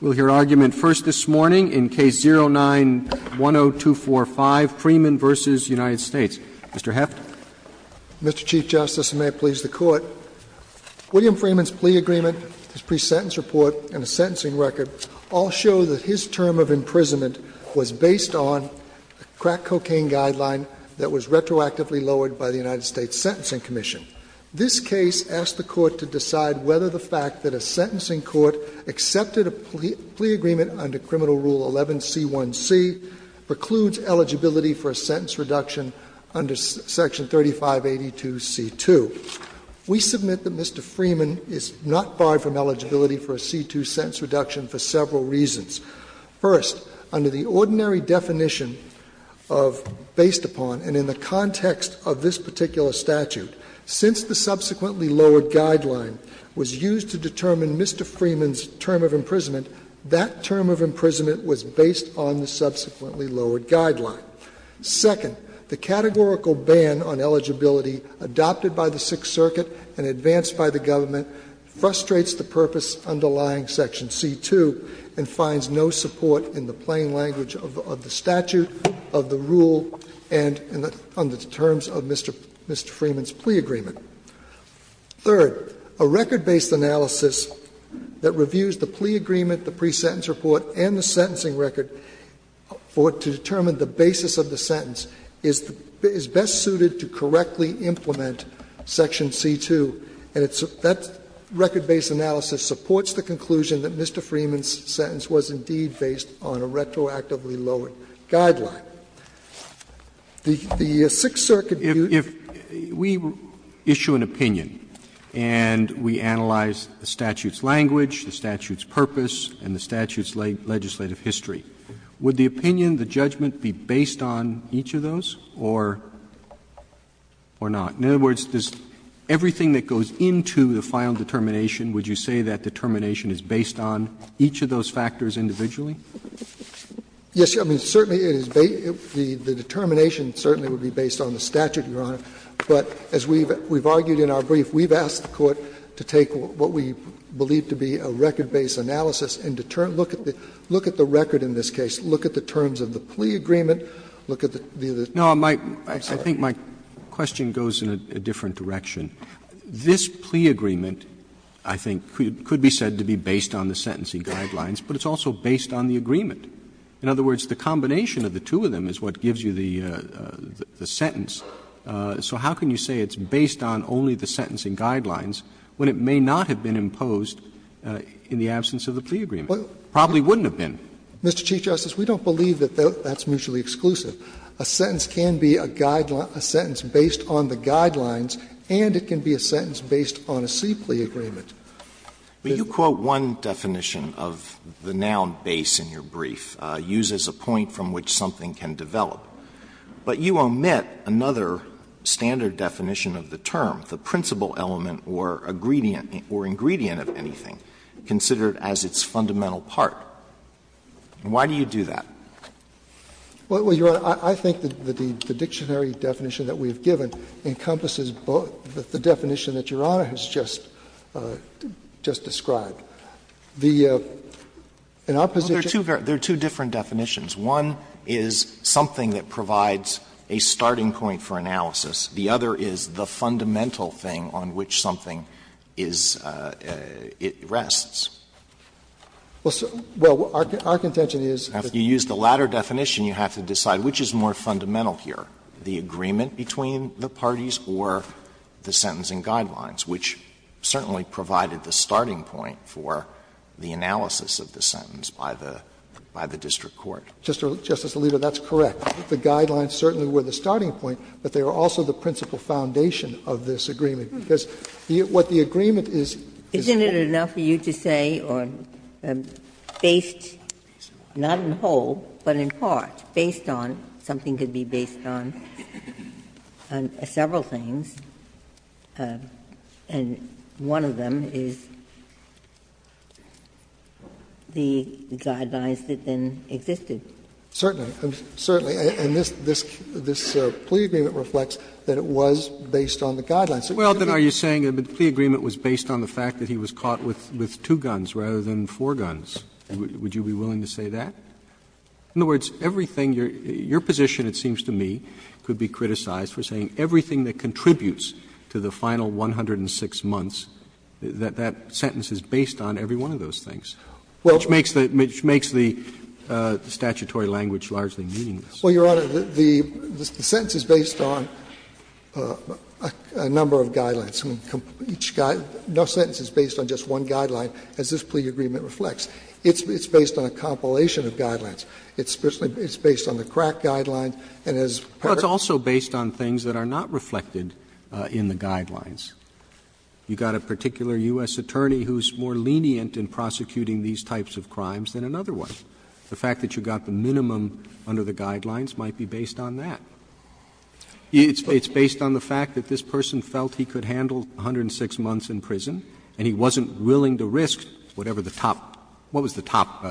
We'll hear argument first this morning in Case 09-10245, Freeman v. United States. Mr. Heffner. Mr. Chief Justice, and may it please the Court, William Freeman's plea agreement, his pre-sentence report, and the sentencing record all show that his term of imprisonment was based on a crack cocaine guideline that was retroactively lowered by the United States Sentencing Commission. This case asked the Court to decide whether the fact that a sentencing court accepted a plea agreement under Criminal Rule 11c1c precludes eligibility for a sentence reduction under Section 3582c2. We submit that Mr. Freeman is not barred from eligibility for a c2 sentence reduction for several reasons. First, under the ordinary definition of based upon, and in the context of this particular statute, since the subsequently lowered guideline was used to determine Mr. Freeman's term of imprisonment, that term of imprisonment was based on the subsequently lowered guideline. Second, the categorical ban on eligibility adopted by the Sixth Circuit and advanced by the government frustrates the purpose underlying Section c2 and finds no support in the plain language of the statute, of the rule, and under the terms of Mr. Freeman's plea agreement. Third, a record-based analysis that reviews the plea agreement, the pre-sentence report, and the sentencing record for it to determine the basis of the sentence is best suited to correctly implement Section c2. And that record-based analysis supports the conclusion that Mr. Freeman's sentence was indeed based on a retroactively lowered guideline. The Sixth Circuit view. Roberts If we issue an opinion and we analyze the statute's language, the statute's purpose, and the statute's legislative history, would the opinion, the judgment, be based on each of those or not? In other words, does everything that goes into the final determination, would you say that determination is based on each of those factors individually? Yes, I mean, certainly it is the determination certainly would be based on the statute, Your Honor. But as we've argued in our brief, we've asked the Court to take what we believe to be a record-based analysis and determine, look at the record in this case, look at the terms of the plea agreement, look at the other terms of the plea agreement. Roberts No, I think my question goes in a different direction. This plea agreement, I think, could be said to be based on the sentencing guidelines, but it's also based on the agreement. In other words, the combination of the two of them is what gives you the sentence. So how can you say it's based on only the sentencing guidelines when it may not have been imposed in the absence of the plea agreement? It probably wouldn't have been. Mr. Chief Justice, we don't believe that that's mutually exclusive. A sentence can be a guideline, a sentence based on the guidelines, and it can be a sentence based on a C plea agreement. Alito But you quote one definition of the noun base in your brief, uses a point from which something can develop. But you omit another standard definition of the term, the principal element or ingredient of anything considered as its fundamental part. Why do you do that? Roberts Well, Your Honor, I think that the dictionary definition that we have given encompasses both the definition that Your Honor has just described. The opposition Alito There are two different definitions. One is something that provides a starting point for analysis. The other is the fundamental thing on which something is rests. Roberts Well, our contention is that Alito You use the latter definition, you have to decide which is more fundamental here, the agreement between the parties or the sentencing guidelines, which certainly provided the starting point for the analysis of the sentence by the district court. Roberts Justice Alito, that's correct. The guidelines certainly were the starting point, but they were also the principal foundation of this agreement. Because what the agreement is, is Ginsburg Isn't it enough for you to say, or based not in whole, but in part, based on something that could be based on several things, and one of them is the guidelines that then Roberts Certainly. Certainly. And this plea agreement reflects that it was based on the guidelines. Roberts Well, then are you saying the plea agreement was based on the fact that he was caught with two guns rather than four guns? Would you be willing to say that? In other words, everything your position, it seems to me, could be criticized for saying everything that contributes to the final 106 months, that that sentence is based on every one of those things, which makes the statutory language largely meaningless. Roberts Well, Your Honor, the sentence is based on a number of guidelines. Each sentence is based on just one guideline, as this plea agreement reflects. It's based on a compilation of guidelines. It's based on the crack guidelines, and as part of the statute, it's based on a number of guidelines, and as part of the statute, it's based on a number of guidelines. Roberts Well, it's also based on things that are not reflected in the guidelines. You've got a particular U.S. attorney who's more lenient in prosecuting these types of crimes than another one. The fact that you've got the minimum under the guidelines might be based on that. It's based on the fact that this person felt he could handle 106 months in prison, and he wasn't willing to risk whatever the top – what was the top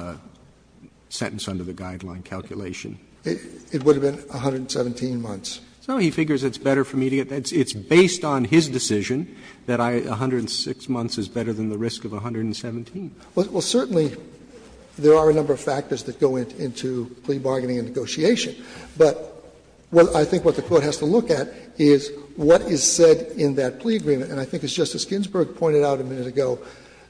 sentence under the guideline calculation? Roberts It would have been 117 months. Roberts So he figures it's better for me to get that. It's based on his decision that 106 months is better than the risk of 117. Roberts Well, certainly there are a number of factors that go into plea bargaining and negotiation. But I think what the Court has to look at is what is said in that plea agreement. And I think, as Justice Ginsburg pointed out a minute ago,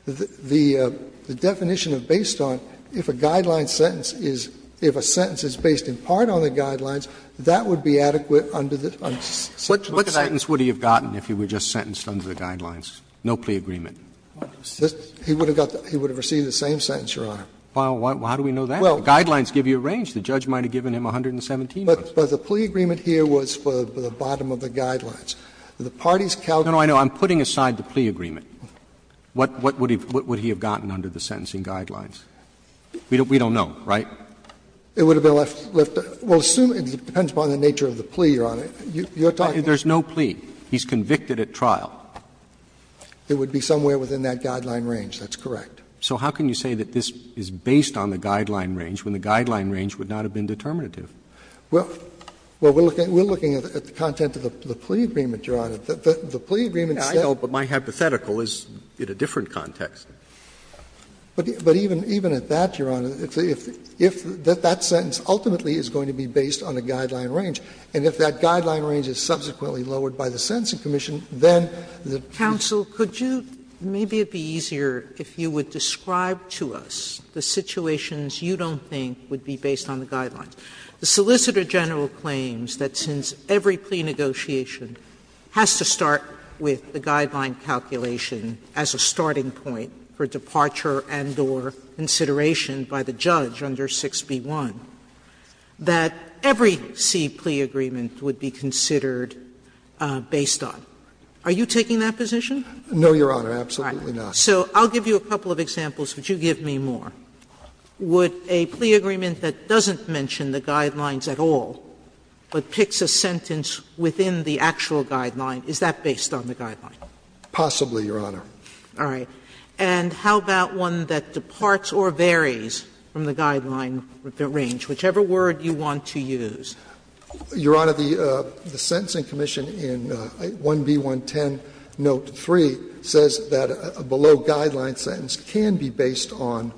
the definition of based on, if a guideline sentence is – if a sentence is based in part on the guidelines, that would be adequate under the sentence. Roberts What sentence would he have gotten if he were just sentenced under the guidelines? No plea agreement. Roberts He would have got the – he would have received the same sentence, Your Honor. Roberts Well, how do we know that? Guidelines give you a range. The judge might have given him 117 months. Roberts But the plea agreement here was for the bottom of the guidelines. The parties calculated that. No, no, I know. I'm putting aside the plea agreement. What would he have gotten under the sentencing guidelines? We don't know, right? Roberts It would have been left – well, assume – it depends upon the nature of the plea, Your Honor. You're talking about – Roberts There's no plea. He's convicted at trial. Roberts It would be somewhere within that guideline range. That's correct. Roberts So how can you say that this is based on the guideline range when the guideline range would not have been determinative? Roberts Well, we're looking at the content of the plea agreement, Your Honor. The plea agreement said – Roberts I know, but my hypothetical is in a different context. But even at that, Your Honor, if that sentence ultimately is going to be based on a guideline range, and if that guideline range is subsequently lowered by the sentencing commission, then the – Sotomayor Counsel, could you – maybe it would be easier if you would describe to us the situations you don't think would be based on the guidelines. The Solicitor General claims that since every plea negotiation has to start with the guideline calculation as a starting point for departure and or consideration by the judge under 6b-1, that every C plea agreement would be considered based on. Are you taking that position? No, Your Honor, absolutely not. Sotomayor All right. So I'll give you a couple of examples, but you give me more. Would a plea agreement that doesn't mention the guidelines at all, but picks a sentence within the actual guideline, is that based on the guideline? Roberts Possibly, Your Honor. Sotomayor All right. And how about one that departs or varies from the guideline range, whichever word you want to use? Roberts Your Honor, the sentencing commission in 1b-110, note 3, says that a below-guideline sentence can be based on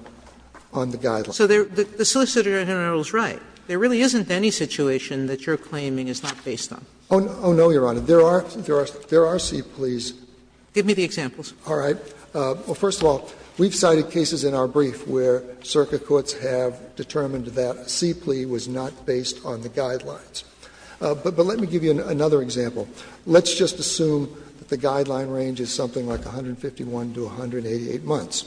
the guideline. Sotomayor So the Solicitor General is right. There really isn't any situation that you're claiming is not based on. Roberts Oh, no, Your Honor. There are C pleas. Sotomayor Give me the examples. Roberts All right. Well, first of all, we've cited cases in our brief where circuit courts have determined that a C plea was not based on the guidelines. But let me give you another example. Let's just assume that the guideline range is something like 151 to 188 months.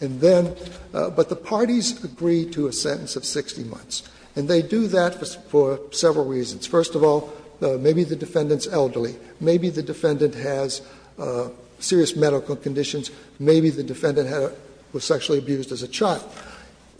And then, but the parties agree to a sentence of 60 months. And they do that for several reasons. First of all, maybe the defendant is elderly. Maybe the defendant has serious medical conditions. Maybe the defendant was sexually abused as a child.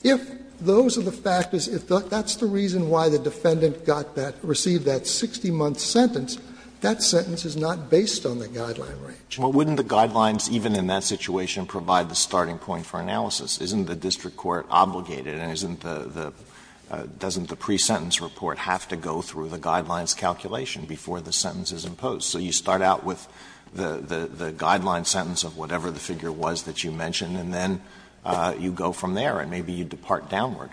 If those are the factors, if that's the reason why the defendant got that, received that 60-month sentence, that sentence is not based on the guideline range. Alito Well, wouldn't the guidelines, even in that situation, provide the starting point for analysis? Isn't the district court obligated and isn't the pre-sentence report have to go through the guidelines calculation before the sentence is imposed? So you start out with the guideline sentence of whatever the figure was that you mentioned, and then you go from there, and maybe you depart downward.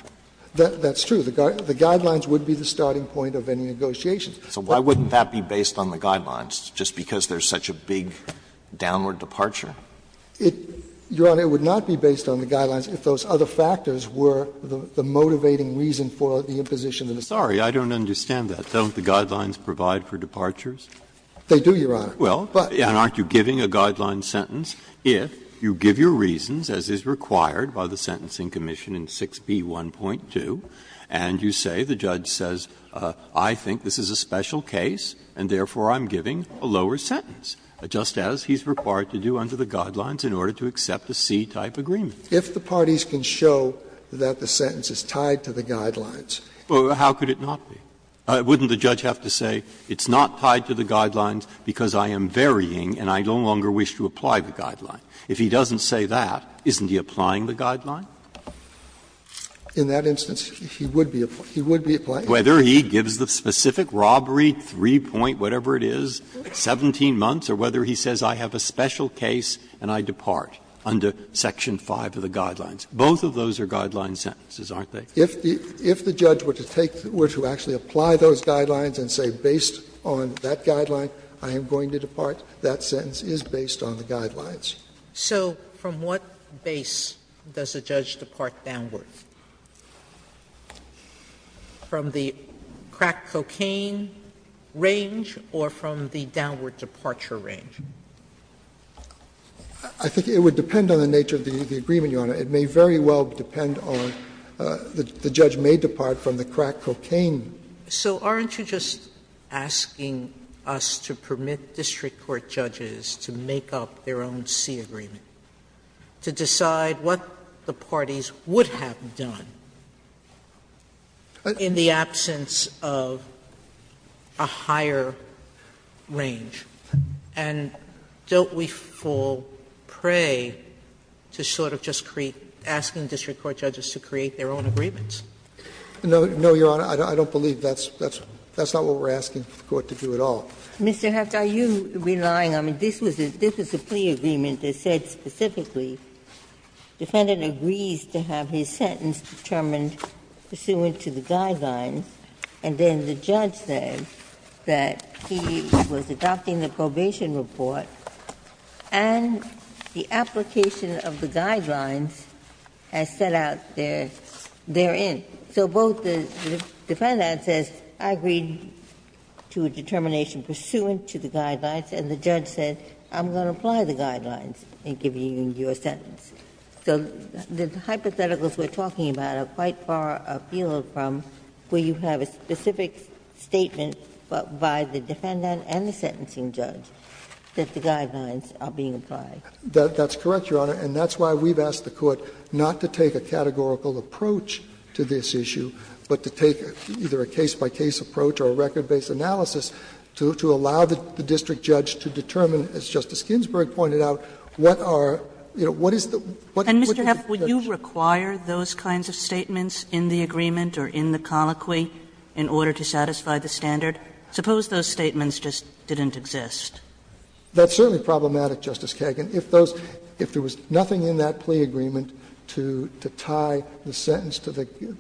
Roberts That's true. The guidelines would be the starting point of any negotiations. Alito So why wouldn't that be based on the guidelines, just because there's such a big downward departure? Roberts Your Honor, it would not be based on the guidelines if those other factors were the motivating reason for the imposition of the sentence. Breyer Sorry, I don't understand that. Don't the guidelines provide for departures? Roberts They do, Your Honor. Breyer Well, and aren't you giving a guideline sentence? If you give your reasons, as is required by the Sentencing Commission in 6b.1.2, and you say, the judge says, I think this is a special case, and therefore I'm giving a lower sentence, just as he's required to do under the guidelines in order to accept a C-type agreement. Roberts If the parties can show that the sentence is tied to the guidelines. Breyer Well, how could it not be? Wouldn't the judge have to say, it's not tied to the guidelines because I am varying and I no longer wish to apply the guideline? If he doesn't say that, isn't he applying the guideline? In that instance, he would be applying it. Breyer Whether he gives the specific robbery, 3-point, whatever it is, 17 months, or whether he says, I have a special case and I depart under section 5 of the guidelines, both of those are guideline sentences, aren't they? Roberts If the judge were to take, were to actually apply those guidelines and say, based on that guideline, I am going to depart, that sentence is based on the guidelines. Sotomayor So from what base does a judge depart downward? From the crack cocaine range or from the downward departure range? Roberts I think it would depend on the nature of the agreement, Your Honor. It may very well depend on the judge may depart from the crack cocaine. Sotomayor So aren't you just asking us to permit district court judges to make up their own C agreement, to decide what the parties would have done in the absence of a higher range? And don't we fall prey to sort of just create, asking district court judges to create their own agreements? Roberts No, Your Honor. I don't believe that's what we're asking the court to do at all. Ginsburg Mr. Heft, are you relying on the ---- this was a plea agreement that said specifically defendant agrees to have his sentence determined pursuant to the guidelines, and then the judge said that he was adopting the probation report, and the application of the guidelines as set out therein. So both the defendant says, I agree to a determination pursuant to the guidelines, and the judge said, I'm going to apply the guidelines in giving you your sentence. So the hypotheticals we're talking about are quite far afield from where you have a specific statement by the defendant and the sentencing judge that the guidelines are being applied. That's correct, Your Honor, and that's why we've asked the court not to take a categorical approach to this issue, but to take either a case-by-case approach or a record-based analysis to allow the district judge to determine, as Justice Ginsburg pointed out, what are, you know, what is the ---- Kagan And, Mr. Heft, would you require those kinds of statements in the agreement or in the colloquy in order to satisfy the standard? Suppose those statements just didn't exist. That's certainly problematic, Justice Kagan. If those ---- if there was nothing in that plea agreement to tie the sentence to the ----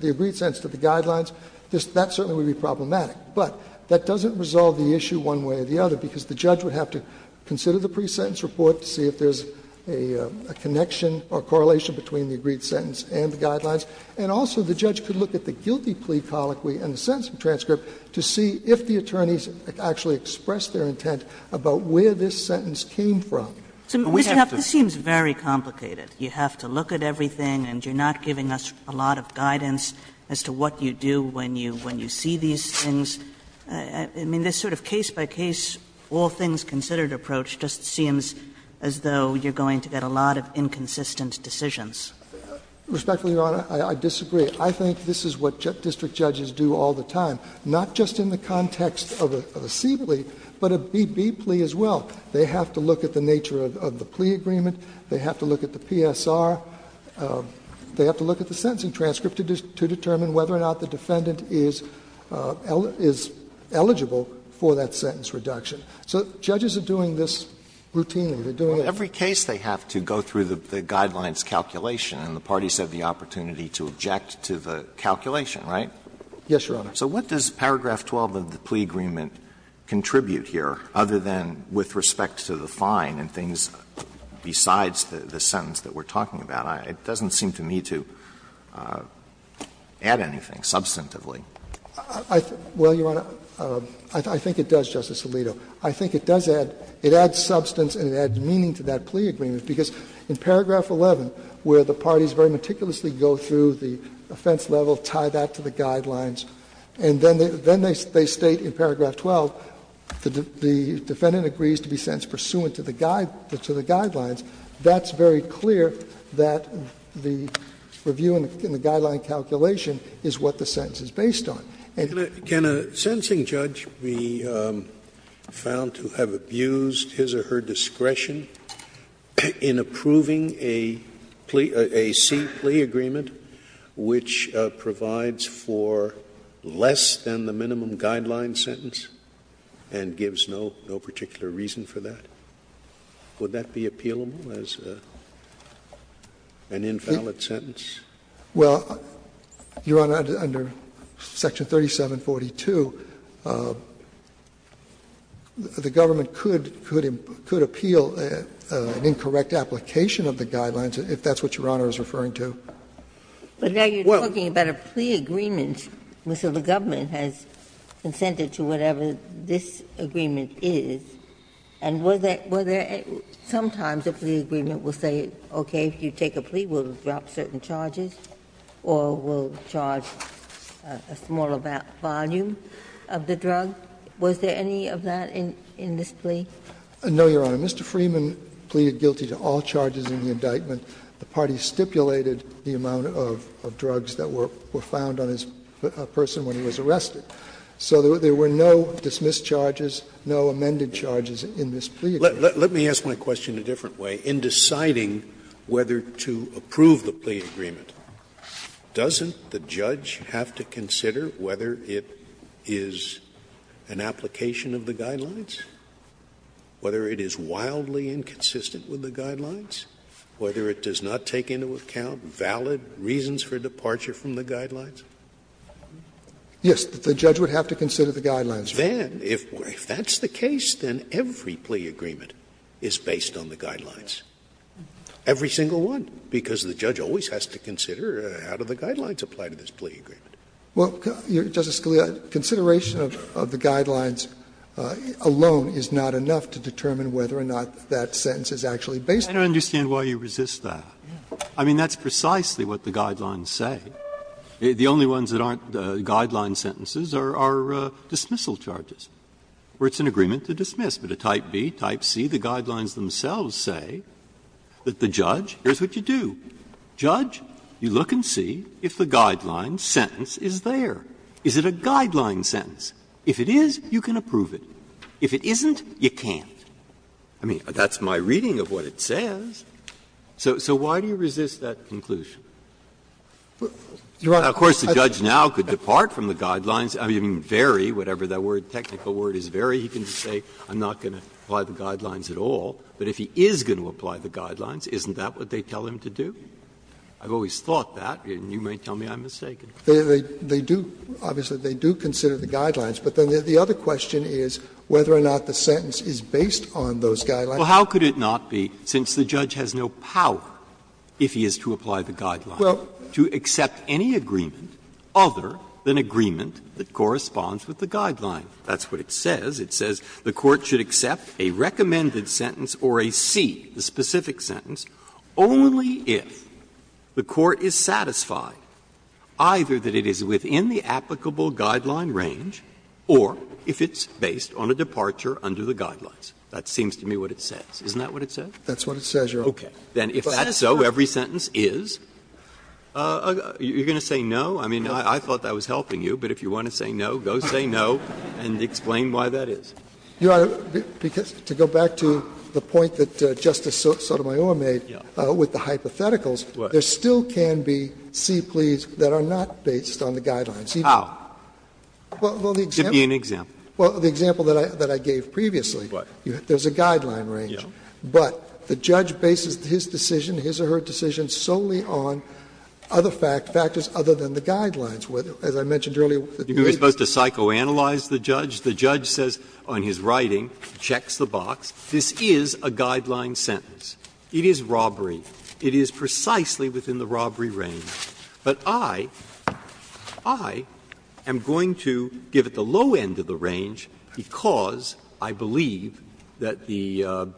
the agreed sentence to the guidelines, that certainly would be problematic. But that doesn't resolve the issue one way or the other, because the judge would have to consider the pre-sentence report to see if there's a connection or correlation between the agreed sentence and the guidelines, and also the judge could look at the guilty plea colloquy and the sentencing transcript to see if the attorneys actually expressed their intent about where this sentence came from. Kagan So, Mr. Heft, this seems very complicated. You have to look at everything, and you're not giving us a lot of guidance as to what you do when you see these things. I mean, this sort of case-by-case, all-things-considered approach just seems as though you're going to get a lot of inconsistent decisions. Heft Respectfully, Your Honor, I disagree. I think this is what district judges do all the time, not just in the context of a C plea, but a B plea as well. They have to look at the nature of the plea agreement. They have to look at the PSR. They have to look at the sentencing transcript to determine whether or not the defendant is eligible for that sentence reduction. So judges are doing this routinely. They're doing it. Alito In every case, they have to go through the guidelines calculation, and the parties have the opportunity to object to the calculation, right? Heft Yes, Your Honor. Alito So what does paragraph 12 of the plea agreement contribute here, other than with respect to the fine and things besides the sentence that we're talking about? It doesn't seem to me to add anything substantively. Heft Well, Your Honor, I think it does, Justice Alito. I think it does add substance and it adds meaning to that plea agreement, because in paragraph 11, where the parties very meticulously go through the offense level, tie that to the guidelines, and then they state in paragraph 12, the defendant agrees to be sentenced pursuant to the guidelines, that's very clear that the review and the guideline calculation is what the sentence is based on. Scalia Can a sentencing judge be found to have abused his or her discretion in approving a plea, a C plea agreement, which provides for less than the minimum guideline sentence and gives no particular reason for that? Would that be appealable as an invalid sentence? Heft Well, Your Honor, under section 3742, the government could appeal an incorrect application of the guidelines, if that's what Your Honor is referring to. Ginsburg But now you're talking about a plea agreement, so the government has consented to whatever this agreement is, and were there at some times a plea agreement will say, okay, if you take a plea, we'll drop certain charges, or we'll charge a smaller volume of the drug. Was there any of that in this plea? Heft No, Your Honor, in all charges in the indictment, the party stipulated the amount of drugs that were found on this person when he was arrested. So there were no dismissed charges, no amended charges in this plea agreement. Scalia Let me ask my question a different way. In deciding whether to approve the plea agreement, doesn't the judge have to consider whether it is an application of the guidelines, whether it is wildly inconsistent with the guidelines, whether it does not take into account valid reasons for departure from the guidelines? Heft Yes, the judge would have to consider the guidelines. Scalia Then, if that's the case, then every plea agreement is based on the guidelines, every single one, because the judge always has to consider how do the guidelines apply to this plea agreement. Heft Well, Justice Scalia, consideration of the guidelines alone is not enough to determine whether or not that sentence is actually based on the guidelines. Breyer I don't understand why you resist that. I mean, that's precisely what the guidelines say. The only ones that aren't guideline sentences are dismissal charges, where it's an agreement to dismiss. But a Type B, Type C, the guidelines themselves say that the judge, here's what you do. Judge, you look and see if the guideline sentence is there. Is it a guideline sentence? If it is, you can approve it. If it isn't, you can't. I mean, that's my reading of what it says. So why do you resist that conclusion? Of course, the judge now could depart from the guidelines. I mean, vary, whatever that word, technical word is, vary, he can say I'm not going to apply the guidelines at all. But if he is going to apply the guidelines, isn't that what they tell him to do? I've always thought that, and you may tell me I'm mistaken. Scalia They do, obviously, they do consider the guidelines. But then the other question is whether or not the sentence is based on those guidelines. Breyer Well, how could it not be, since the judge has no power, if he is to apply the guidelines, to accept any agreement other than agreement that corresponds with the guideline? That's what it says. It says the Court should accept a recommended sentence or a C, the specific sentence, only if the Court is satisfied either that it is within the applicable guideline range or if it's based on a departure under the guidelines. That seems to me what it says. Isn't that what it says? That's what it says, Your Honor. Breyer Okay. Then if that's so, every sentence is? You're going to say no? I mean, I thought that was helping you, but if you want to say no, go say no and explain why that is. Scalia Your Honor, to go back to the point that Justice Sotomayor made with the hypotheticals, there still can be C pleas that are not based on the guidelines. Breyer How? Give me an example. Scalia Well, the example that I gave previously, there's a guideline range. But the judge bases his decision, his or her decision, solely on other factors other than the guidelines, as I mentioned earlier. Breyer You're supposed to psychoanalyze the judge? The judge says on his writing, checks the box, this is a guideline sentence. It is robbery. It is precisely within the robbery range. But I am going to give it the low end of the range because I believe that the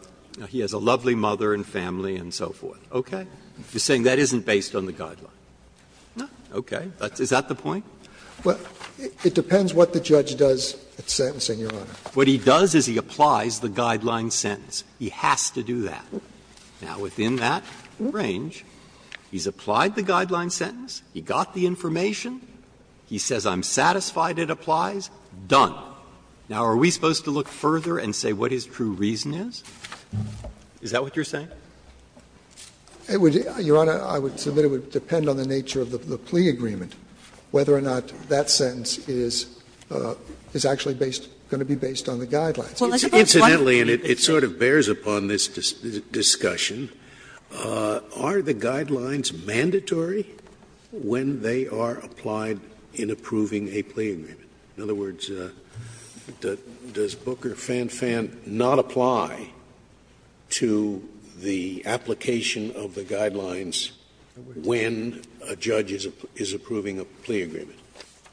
he has a lovely mother and family and so forth. Okay? You're saying that isn't based on the guideline? Okay. Is that the point? Well, it depends what the judge does at sentencing, Your Honor. Breyer What he does is he applies the guideline sentence. He has to do that. Now, within that range, he's applied the guideline sentence, he got the information, he says I'm satisfied it applies, done. Now, are we supposed to look further and say what his true reason is? Is that what you're saying? Scalia It would, Your Honor, I would submit it would depend on the nature of the plea agreement whether or not that sentence is actually based, going to be based on the guidelines. Scalia Incidentally, and it sort of bears upon this discussion, are the guidelines mandatory when they are applied in approving a plea agreement? In other words, does Booker, Fan, Fan not apply to the application of the guidelines when a judge is approving a plea agreement?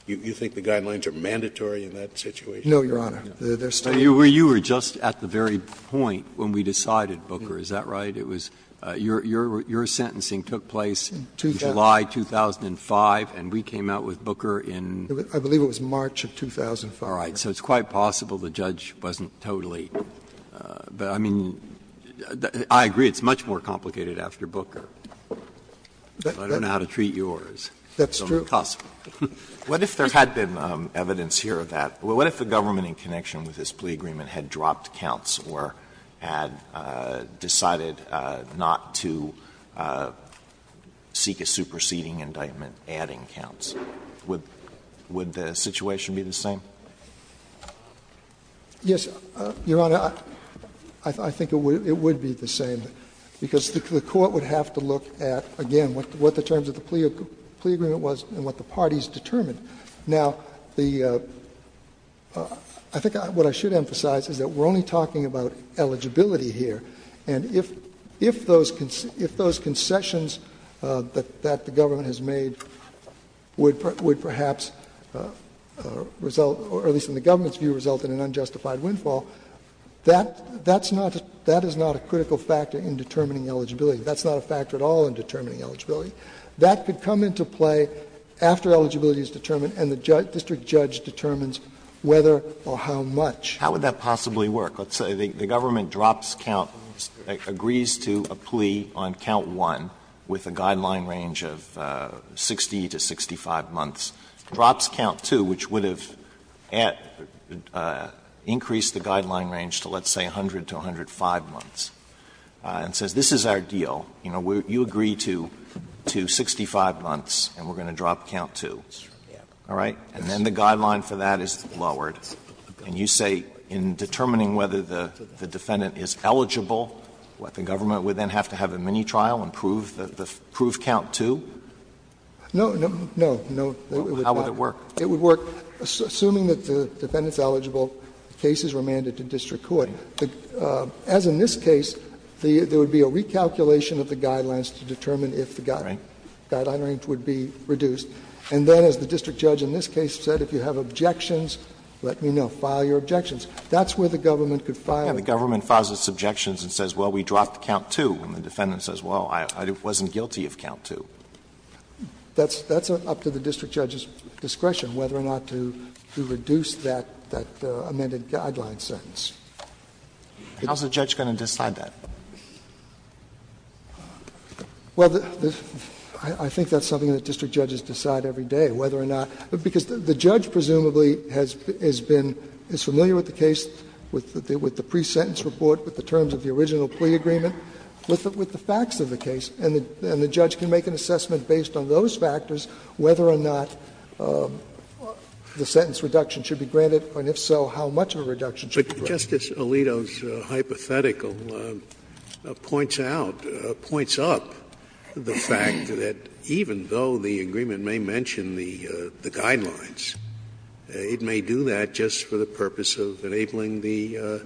You think the guidelines are mandatory in that situation? No, Your Honor. They're still in place. Breyer You were just at the very point when we decided, Booker, is that right? It was your sentencing took place in July 2005 and we came out with Booker in? Scalia I believe it was March of 2005. Breyer All right. So it's quite possible the judge wasn't totally, but I mean, I agree it's much more complicated after Booker. I don't know how to treat yours. Scalia That's true. Breyer If the government in connection with this plea agreement had dropped counts or had decided not to seek a superseding indictment, adding counts, would the situation be the same? Scalia Yes, Your Honor. I think it would be the same, because the court would have to look at, again, what the terms of the plea agreement was and what the parties determined. Now, the — I think what I should emphasize is that we're only talking about eligibility here. And if those concessions that the government has made would perhaps result, or at least in the government's view, result in an unjustified windfall, that is not a critical factor in determining eligibility. That's not a factor at all in determining eligibility. That could come into play after eligibility is determined and the district judge determines whether or how much. Alito How would that possibly work? Let's say the government drops counts, agrees to a plea on count 1 with a guideline range of 60 to 65 months, drops count 2, which would have increased the guideline range to, let's say, 100 to 105 months, and says, this is our deal. You know, you agree to 65 months and we're going to drop count 2, all right? And then the guideline for that is lowered, and you say in determining whether the defendant is eligible, the government would then have to have a mini-trial and prove count 2? No, no, no, no. How would it work? It would work assuming that the defendant is eligible, the case is remanded to district court. As in this case, there would be a recalculation of the guidelines to determine if the guideline range would be reduced. And then as the district judge in this case said, if you have objections, let me know. File your objections. That's where the government could file. Alito The government files its objections and says, well, we dropped count 2, and the defendant says, well, I wasn't guilty of count 2. That's up to the district judge's discretion whether or not to reduce that amended guideline sentence. How is the judge going to decide that? Carvin Well, I think that's something that district judges decide every day, whether or not. Because the judge presumably has been, is familiar with the case, with the pre-sentence report, with the terms of the original plea agreement, with the facts of the case. And the judge can make an assessment based on those factors whether or not the sentence reduction should be granted, and if so, how much of a reduction should be granted. Scalia Justice Alito's hypothetical points out, points up the fact that even though the agreement may mention the guidelines, it may do that just for the purpose of enabling the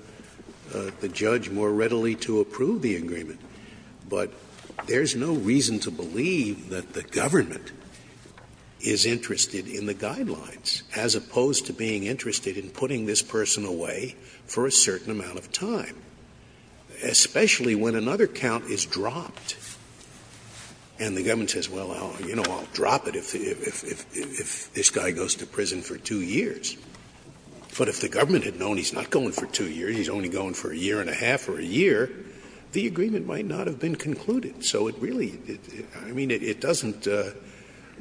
judge more readily to approve the agreement. But there's no reason to believe that the government is interested in the guidelines, as opposed to being interested in putting this person away for a certain amount of time, especially when another count is dropped. And the government says, well, you know, I'll drop it if this guy goes to prison for 2 years. But if the government had known he's not going for 2 years, he's only going for a year and a half or a year, the agreement might not have been concluded. So it really, I mean, it doesn't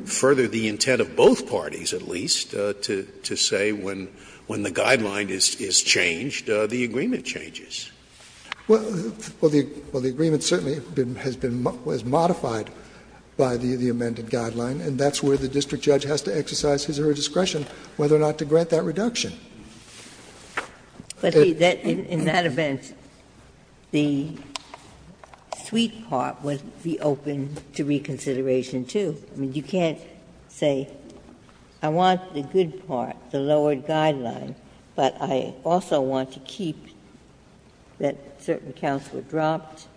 further the intent of both parties, at least, to say when the guideline is changed, the agreement changes. Well, the agreement certainly has been modified by the amended guideline, and that's where the district judge has to exercise his or her discretion whether or not to grant that reduction. But in that event, the sweet part would be open to reconsideration, too. Ginsburg. I mean, you can't say, I want the good part, the lowered guideline, but I also want to keep that certain counts were dropped,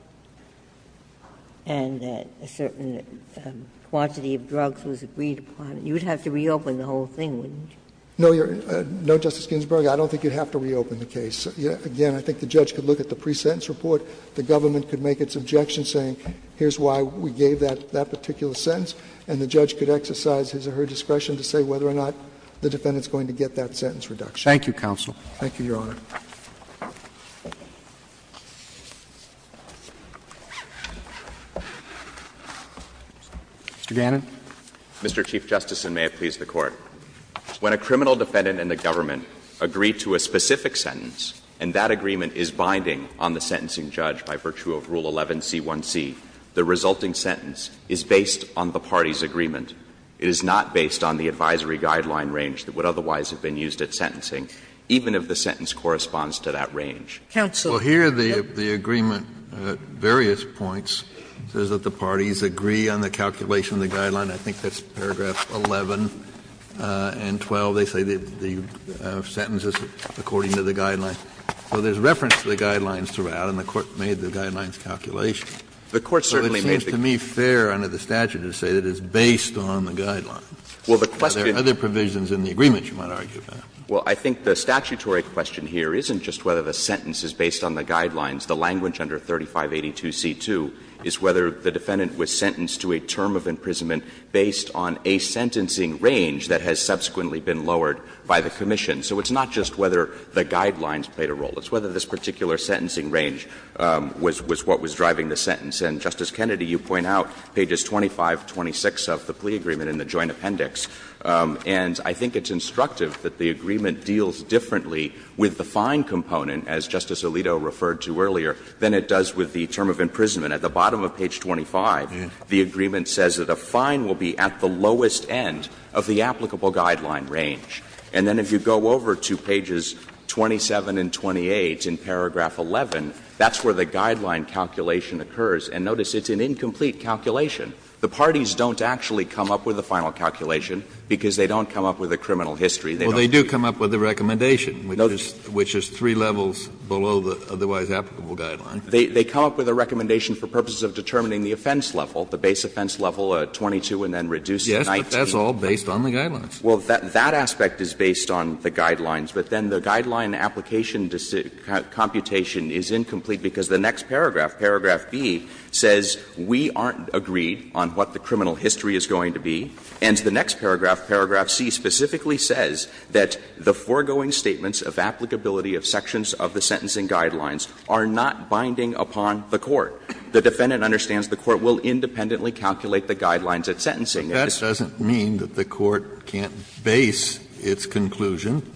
and that a certain quantity of drugs was agreed upon. You would have to reopen the whole thing, wouldn't you? No, Justice Ginsburg, I don't think you'd have to reopen the case. Again, I think the judge could look at the pre-sentence report. The government could make its objection, saying here's why we gave that particular sentence. And the judge could exercise his or her discretion to say whether or not the defendant is going to get that sentence reduction. Thank you, counsel. Thank you, Your Honor. Mr. Gannon. Mr. Chief Justice, and may it please the Court. When a criminal defendant and the government agree to a specific sentence, and that agreement is binding on the sentencing judge by virtue of Rule 11c1c, the resulting sentence is based on the party's agreement. It is not based on the advisory guideline range that would otherwise have been used at sentencing, even if the sentence corresponds to that range. Counsel. Well, here the agreement at various points says that the parties agree on the calculation of the guideline. I think that's paragraph 11 and 12. They say the sentence is according to the guideline. So there's reference to the guidelines throughout, and the Court made the guidelines calculation. The Court certainly made the case. It seems to me fair under the statute to say that it's based on the guidelines. Well, the question is other provisions in the agreement you might argue about. Well, I think the statutory question here isn't just whether the sentence is based on the guidelines. The language under 3582c2 is whether the defendant was sentenced to a term of imprisonment based on a sentencing range that has subsequently been lowered by the commission. So it's not just whether the guidelines played a role. It's whether this particular sentencing range was what was driving the sentence. And, Justice Kennedy, you point out pages 25, 26 of the plea agreement in the joint appendix. And I think it's instructive that the agreement deals differently with the fine component, as Justice Alito referred to earlier, than it does with the term of imprisonment. At the bottom of page 25, the agreement says that a fine will be at the lowest end of the applicable guideline range. And then if you go over to pages 27 and 28 in paragraph 11, that's where the guideline calculation occurs. And notice it's an incomplete calculation. The parties don't actually come up with a final calculation because they don't come up with a criminal history. They don't do it. Kennedy, Well, they do come up with a recommendation, which is three levels below the otherwise applicable guideline. They come up with a recommendation for purposes of determining the offense level, the base offense level, 22 and then reduce to 19. Kennedy, Yes, but that's all based on the guidelines. Well, that aspect is based on the guidelines, but then the guideline application computation is incomplete because the next paragraph, paragraph B, says we aren't agreed on what the criminal history is going to be. And the next paragraph, paragraph C, specifically says that the foregoing statements of applicability of sections of the sentencing guidelines are not binding upon the court. The defendant understands the court will independently calculate the guidelines at sentencing. Kennedy, But that doesn't mean that the court can't base its conclusion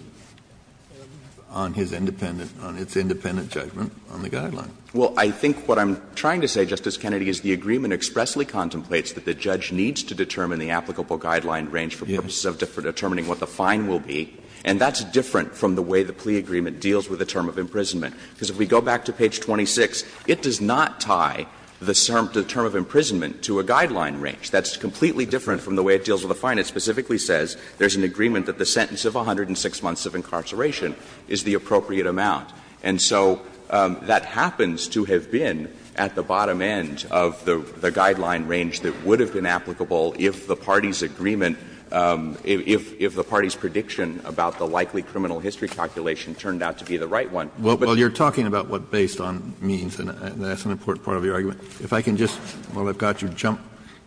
on his independent – on its independent judgment on the guidelines. Well, I think what I'm trying to say, Justice Kennedy, is the agreement expressly contemplates that the judge needs to determine the applicable guideline range for purposes of determining what the fine will be, and that's different from the way the plea agreement deals with the term of imprisonment. Because if we go back to page 26, it does not tie the term of imprisonment to a guideline range. That's completely different from the way it deals with a fine. It specifically says there's an agreement that the sentence of 106 months of incarceration is the appropriate amount. And so that happens to have been at the bottom end of the guideline range that would have been applicable if the party's agreement, if the party's prediction about the likely criminal history calculation turned out to be the right one. Kennedy, Well, you're talking about what based on means, and that's an important part of your argument. If I can just, while I've got you, jump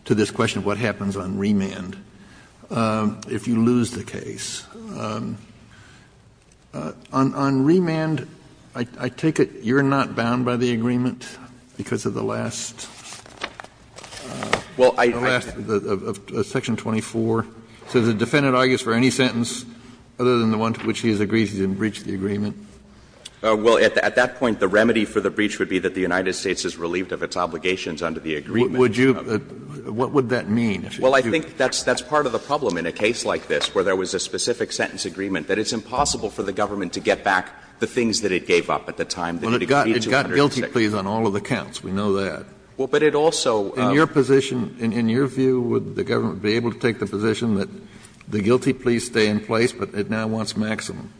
to this question of what happens on remand if you lose the case. On remand, I take it you're not bound by the agreement because of the last, the last of section 24, so the defendant argues for any sentence other than the one to which he has agreed he's going to breach the agreement? Well, at that point, the remedy for the breach would be that the United States is relieved of its obligations under the agreement. Kennedy, What would you, what would that mean? Well, I think that's part of the problem in a case like this where there was a specific sentence agreement, that it's impossible for the government to get back the things that it gave up at the time that it agreed to 106. Kennedy, Well, it got guilty pleas on all of the counts. We know that. Well, but it also. Kennedy, In your position, in your view, would the government be able to take the position that the guilty pleas stay in place, but it now wants maximum?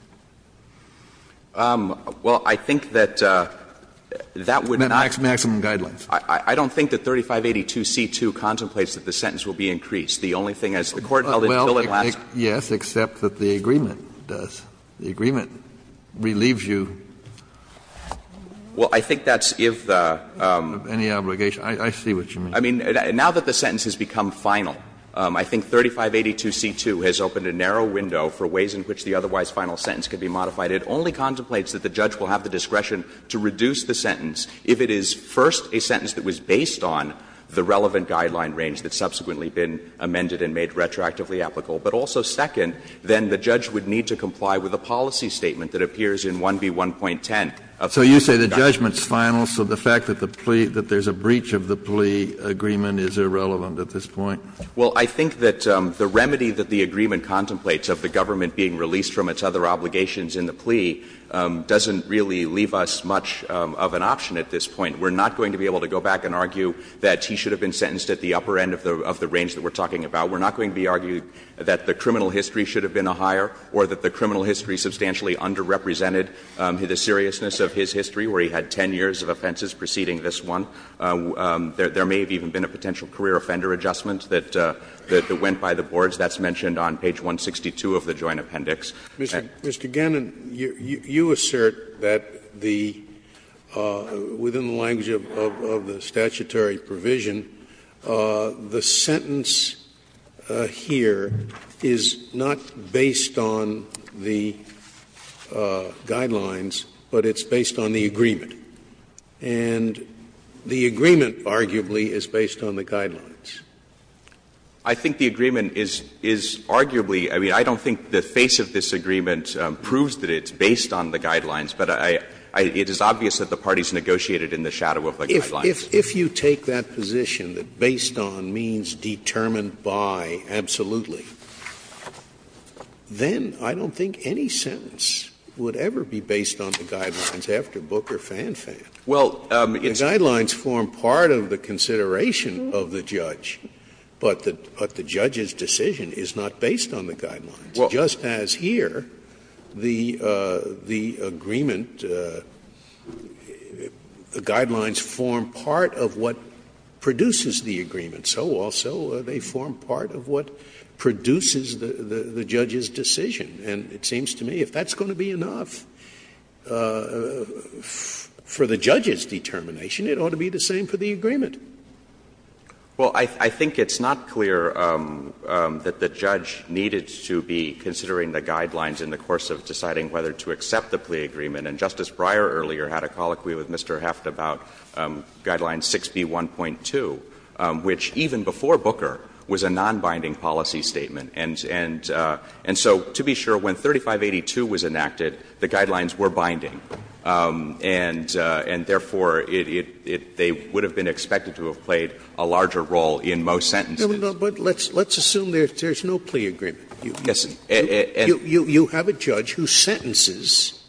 Well, I think that that would not. Maximum guidelines. I don't think that 3582c2 contemplates that the sentence will be increased. The only thing is the Court held until it lasts. Kennedy, Well, yes, except that the agreement does. The agreement relieves you of any obligation. I see what you mean. I mean, now that the sentence has become final, I think 3582c2 has opened a narrow window for ways in which the otherwise final sentence could be modified. It only contemplates that the judge will have the discretion to reduce the sentence if it is, first, a sentence that was based on the relevant guideline range that's subsequently been amended and made retroactively applicable, but also, second, then the judge would need to comply with a policy statement that appears in 1B1.10 of the Federal Guidelines. Kennedy, So you say the judgment's final, so the fact that the plea — that there's a breach of the plea agreement is irrelevant at this point? Maximum Guidelines, Well, I think that the remedy that the agreement contemplates of the government being released from its other obligations in the plea doesn't really leave us much of an option at this point. We're not going to be able to go back and argue that he should have been sentenced at the upper end of the range that we're talking about. We're not going to be arguing that the criminal history should have been a higher or that the criminal history substantially underrepresented the seriousness of his history, where he had 10 years of offenses preceding this one. There may have even been a potential career offender adjustment that went by the boards. That's mentioned on page 162 of the Joint Appendix. Scalia, Mr. Gannon, you assert that the — within the language of the statutory provision, the sentence here is not based on the Guidelines, but it's based on the agreement. And the agreement, arguably, is based on the Guidelines. Gannon, I think the agreement is arguably — I mean, I don't think the face of this agreement proves that it's based on the Guidelines, but I — it is obvious that the parties negotiated in the shadow of the Guidelines. Scalia, if you take that position, that based on means determined by absolutely, then I don't think any sentence would ever be based on the Guidelines after Booker Fanfan. Gannon, well, it's — Scalia, I mean, the Guidelines form part of the consideration of the judge, but the judge's decision is not based on the Guidelines. Just as here, the agreement, the Guidelines form part of what produces the agreement, so also they form part of what produces the judge's decision. And it seems to me if that's going to be enough for the judge's determination, it ought to be the same for the agreement. Well, I think it's not clear that the judge needed to be considering the Guidelines in the course of deciding whether to accept the plea agreement. And Justice Breyer earlier had a colloquy with Mr. Heft about Guidelines 6B1.2, which even before Booker was a nonbinding policy statement. And so to be sure, when 3582 was enacted, the Guidelines were binding, and therefore it — they would have been expected to have played a larger role in most sentences. Scalia, but let's assume there's no plea agreement. Gannon, yes. Scalia, you have a judge who sentences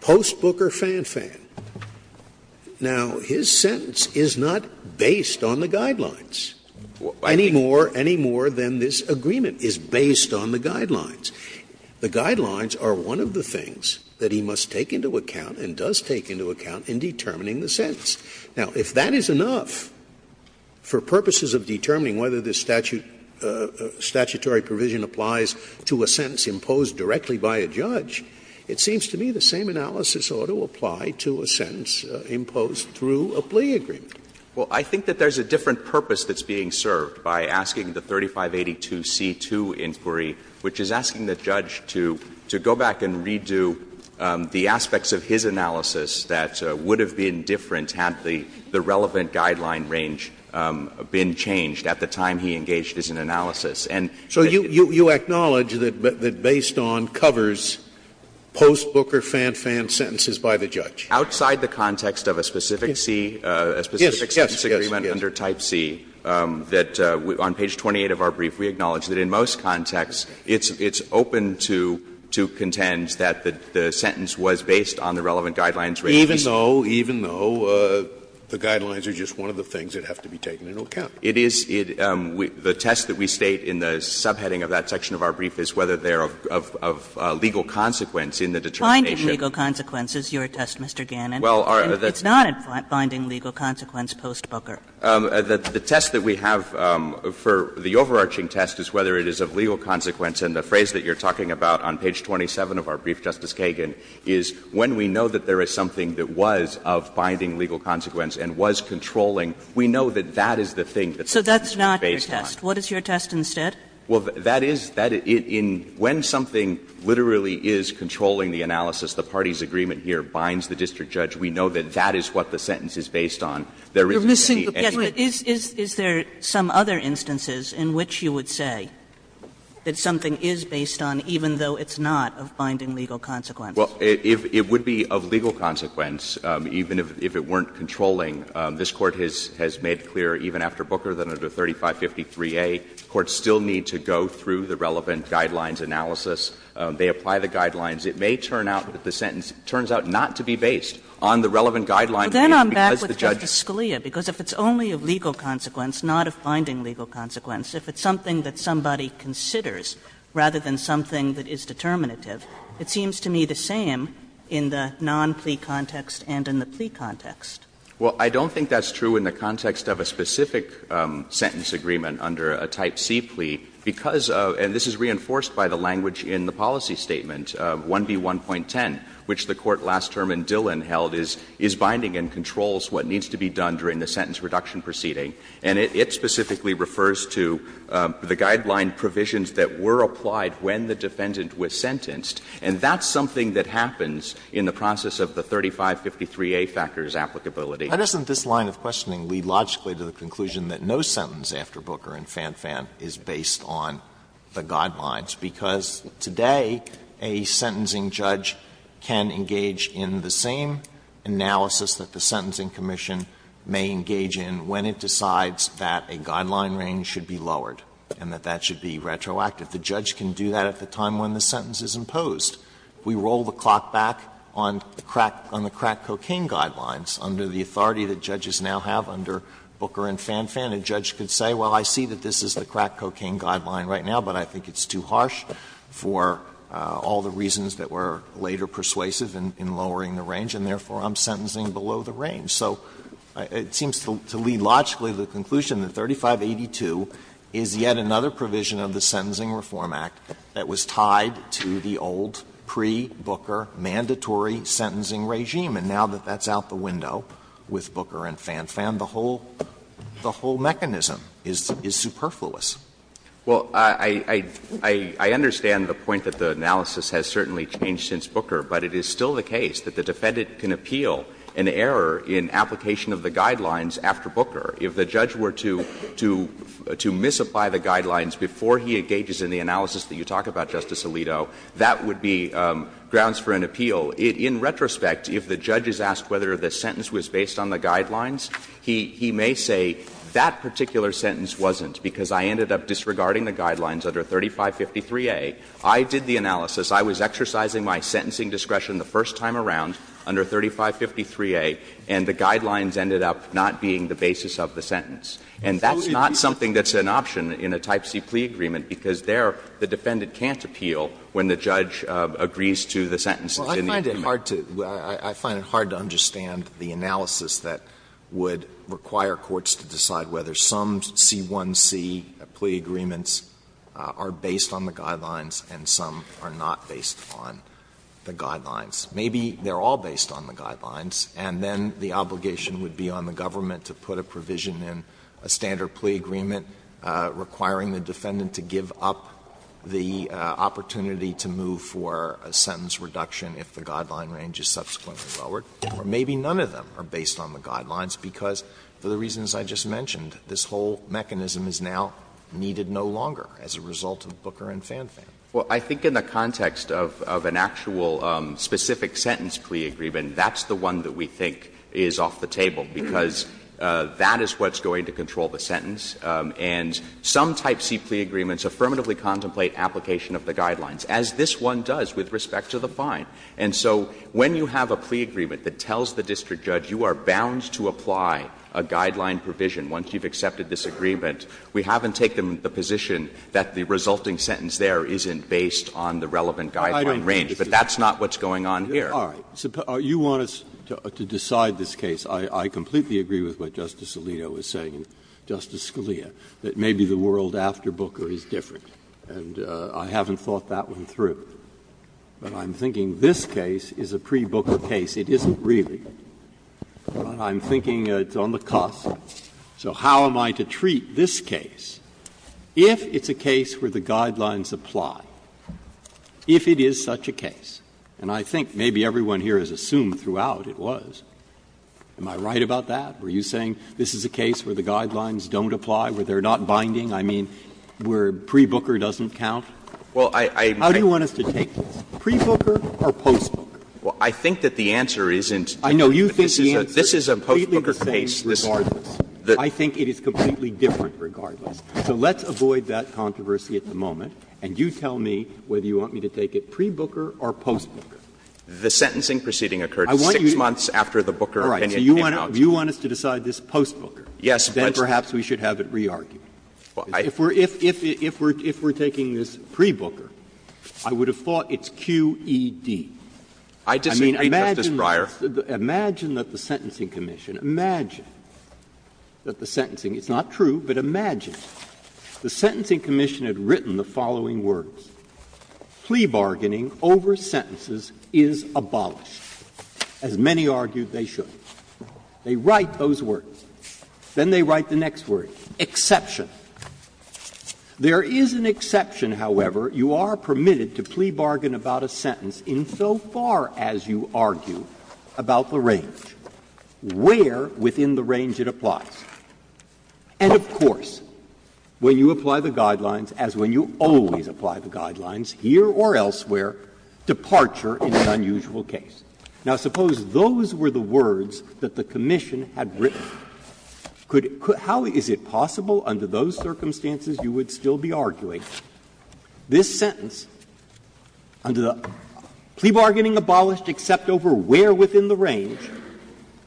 post Booker Fanfan. Now, his sentence is not based on the Guidelines any more, any more than this agreement is based on the Guidelines. The Guidelines are one of the things that he must take into account and does take into account in determining the sentence. Now, if that is enough for purposes of determining whether the statute — statutory provision applies to a sentence imposed directly by a judge, it seems to me the same analysis ought to apply to a sentence imposed through a plea agreement. Well, I think that there's a different purpose that's being served by asking the 3582 C. 2 inquiry, which is asking the judge to go back and redo the aspects of his analysis that would have been different had the relevant Guideline range been changed at the time he engaged as an analysis. And so you — So you acknowledge that based on covers post Booker Fanfan sentences by the judge? Outside the context of a specific C, a specific sentence agreement under Type C, that on page 28 of our brief, we acknowledge that in most contexts it's open to contend that the sentence was based on the relevant Guidelines. Even though, even though, the Guidelines are just one of the things that have to be taken into account. It is — the test that we state in the subheading of that section of our brief is whether they are of legal consequence in the determination. Finding legal consequence is your test, Mr. Gannon. Well, our — It's not finding legal consequence post Booker. The test that we have for the overarching test is whether it is of legal consequence. And the phrase that you're talking about on page 27 of our brief, Justice Kagan, is when we know that there is something that was of binding legal consequence and was controlling, we know that that is the thing that the sentence was based on. So that's not your test. What is your test instead? Well, that is — when something literally is controlling the analysis, the parties' agreement here binds the district judge, we know that that is what the sentence is based on. There isn't any evidence. Yes, but is there some other instances in which you would say that something is based on, even though it's not, of binding legal consequence? Well, it would be of legal consequence, even if it weren't controlling. This Court has made clear, even after Booker, that under 3553A, courts still need to go through the relevant guidelines analysis. They apply the guidelines. It may turn out that the sentence turns out not to be based on the relevant guidelines. But then I'm back with Justice Scalia, because if it's only of legal consequence, not of binding legal consequence, if it's something that somebody considers rather than something that is determinative, it seems to me the same in the non-plea context and in the plea context. Well, I don't think that's true in the context of a specific sentence agreement under a Type C plea, because — and this is reinforced by the language in the policy statement, 1B1.10, which the Court last term in Dillon held is, is binding and controls what needs to be done during the sentence reduction proceeding. And it specifically refers to the guideline provisions that were applied when the defendant was sentenced. And that's something that happens in the process of the 3553A factors applicability. Why doesn't this line of questioning lead logically to the conclusion that no sentence after Booker and Fanfan is based on the guidelines? Because today, a sentencing judge can engage in the same analysis that the Sentencing Commission may engage in when it decides that a guideline range should be lowered and that that should be retroactive. The judge can do that at the time when the sentence is imposed. We roll the clock back on the crack — on the crack cocaine guidelines under the authority that judges now have under Booker and Fanfan. A judge could say, well, I see that this is the crack cocaine guideline right now, but I think it's too harsh for all the reasons that were later persuasive in lowering the range, and therefore, I'm sentencing below the range. So it seems to lead logically to the conclusion that 3582 is yet another provision of the Sentencing Reform Act that was tied to the old pre-Booker mandatory sentencing regime. And now that that's out the window with Booker and Fanfan, the whole — the whole mechanism is superfluous. Well, I understand the point that the analysis has certainly changed since Booker, but it is still the case that the defendant can appeal an error in application of the guidelines after Booker. If the judge were to — to misapply the guidelines before he engages in the analysis that you talk about, Justice Alito, that would be grounds for an appeal. In retrospect, if the judge is asked whether the sentence was based on the guidelines, he may say that particular sentence wasn't because I ended up disregarding the guidelines under 3553a. I did the analysis. I was exercising my sentencing discretion the first time around under 3553a, and the guidelines ended up not being the basis of the sentence. And that's not something that's an option in a type C plea agreement, because I find it hard to — I find it hard to understand the analysis that would require courts to decide whether some C1c plea agreements are based on the guidelines and some are not based on the guidelines. Maybe they're all based on the guidelines, and then the obligation would be on the government to put a provision in a standard plea agreement requiring the defendant to give up the opportunity to move for a sentence reduction if the guideline range is subsequently lowered. Or maybe none of them are based on the guidelines because, for the reasons I just mentioned, this whole mechanism is now needed no longer as a result of Booker and Fanfan. Well, I think in the context of an actual specific sentence plea agreement, that's the one that we think is off the table, because that is what's going to control the sentence. And some type C plea agreements affirmatively contemplate application of the guidelines, as this one does with respect to the fine. And so when you have a plea agreement that tells the district judge you are bound to apply a guideline provision once you've accepted this agreement, we haven't taken the position that the resulting sentence there isn't based on the relevant guideline range. But that's not what's going on here. Breyer. You want us to decide this case. I completely agree with what Justice Alito is saying. Justice Scalia, that maybe the world after Booker is different. And I haven't thought that one through. But I'm thinking this case is a pre-Booker case. It isn't really. But I'm thinking it's on the cusp. So how am I to treat this case, if it's a case where the guidelines apply, if it is such a case? And I think maybe everyone here has assumed throughout it was. Am I right about that? Were you saying this is a case where the guidelines don't apply, where they are not binding? I mean, where pre-Booker doesn't count? How do you want us to take this, pre-Booker or post-Booker? Well, I think that the answer isn't different, but this is a post-Booker case. I think it is completely different regardless. So let's avoid that controversy at the moment, and you tell me whether you want me to take it pre-Booker or post-Booker. The sentencing proceeding occurred 6 months after the Booker opinion came out. If you want us to decide this post-Booker, then perhaps we should have it re-argued. If we're taking this pre-Booker, I would have thought it's QED. I mean, imagine that the Sentencing Commission, imagine that the Sentencing — it's not true, but imagine — the Sentencing Commission had written the following words, plea bargaining over sentences is abolished, as many argued they should. They write those words. Then they write the next word, exception. There is an exception, however. You are permitted to plea bargain about a sentence insofar as you argue about the range, where within the range it applies. And, of course, when you apply the guidelines, as when you always apply the guidelines here or elsewhere, departure is an unusual case. Now, suppose those were the words that the commission had written. Could — how is it possible under those circumstances you would still be arguing this sentence under the plea bargaining abolished except over where within the range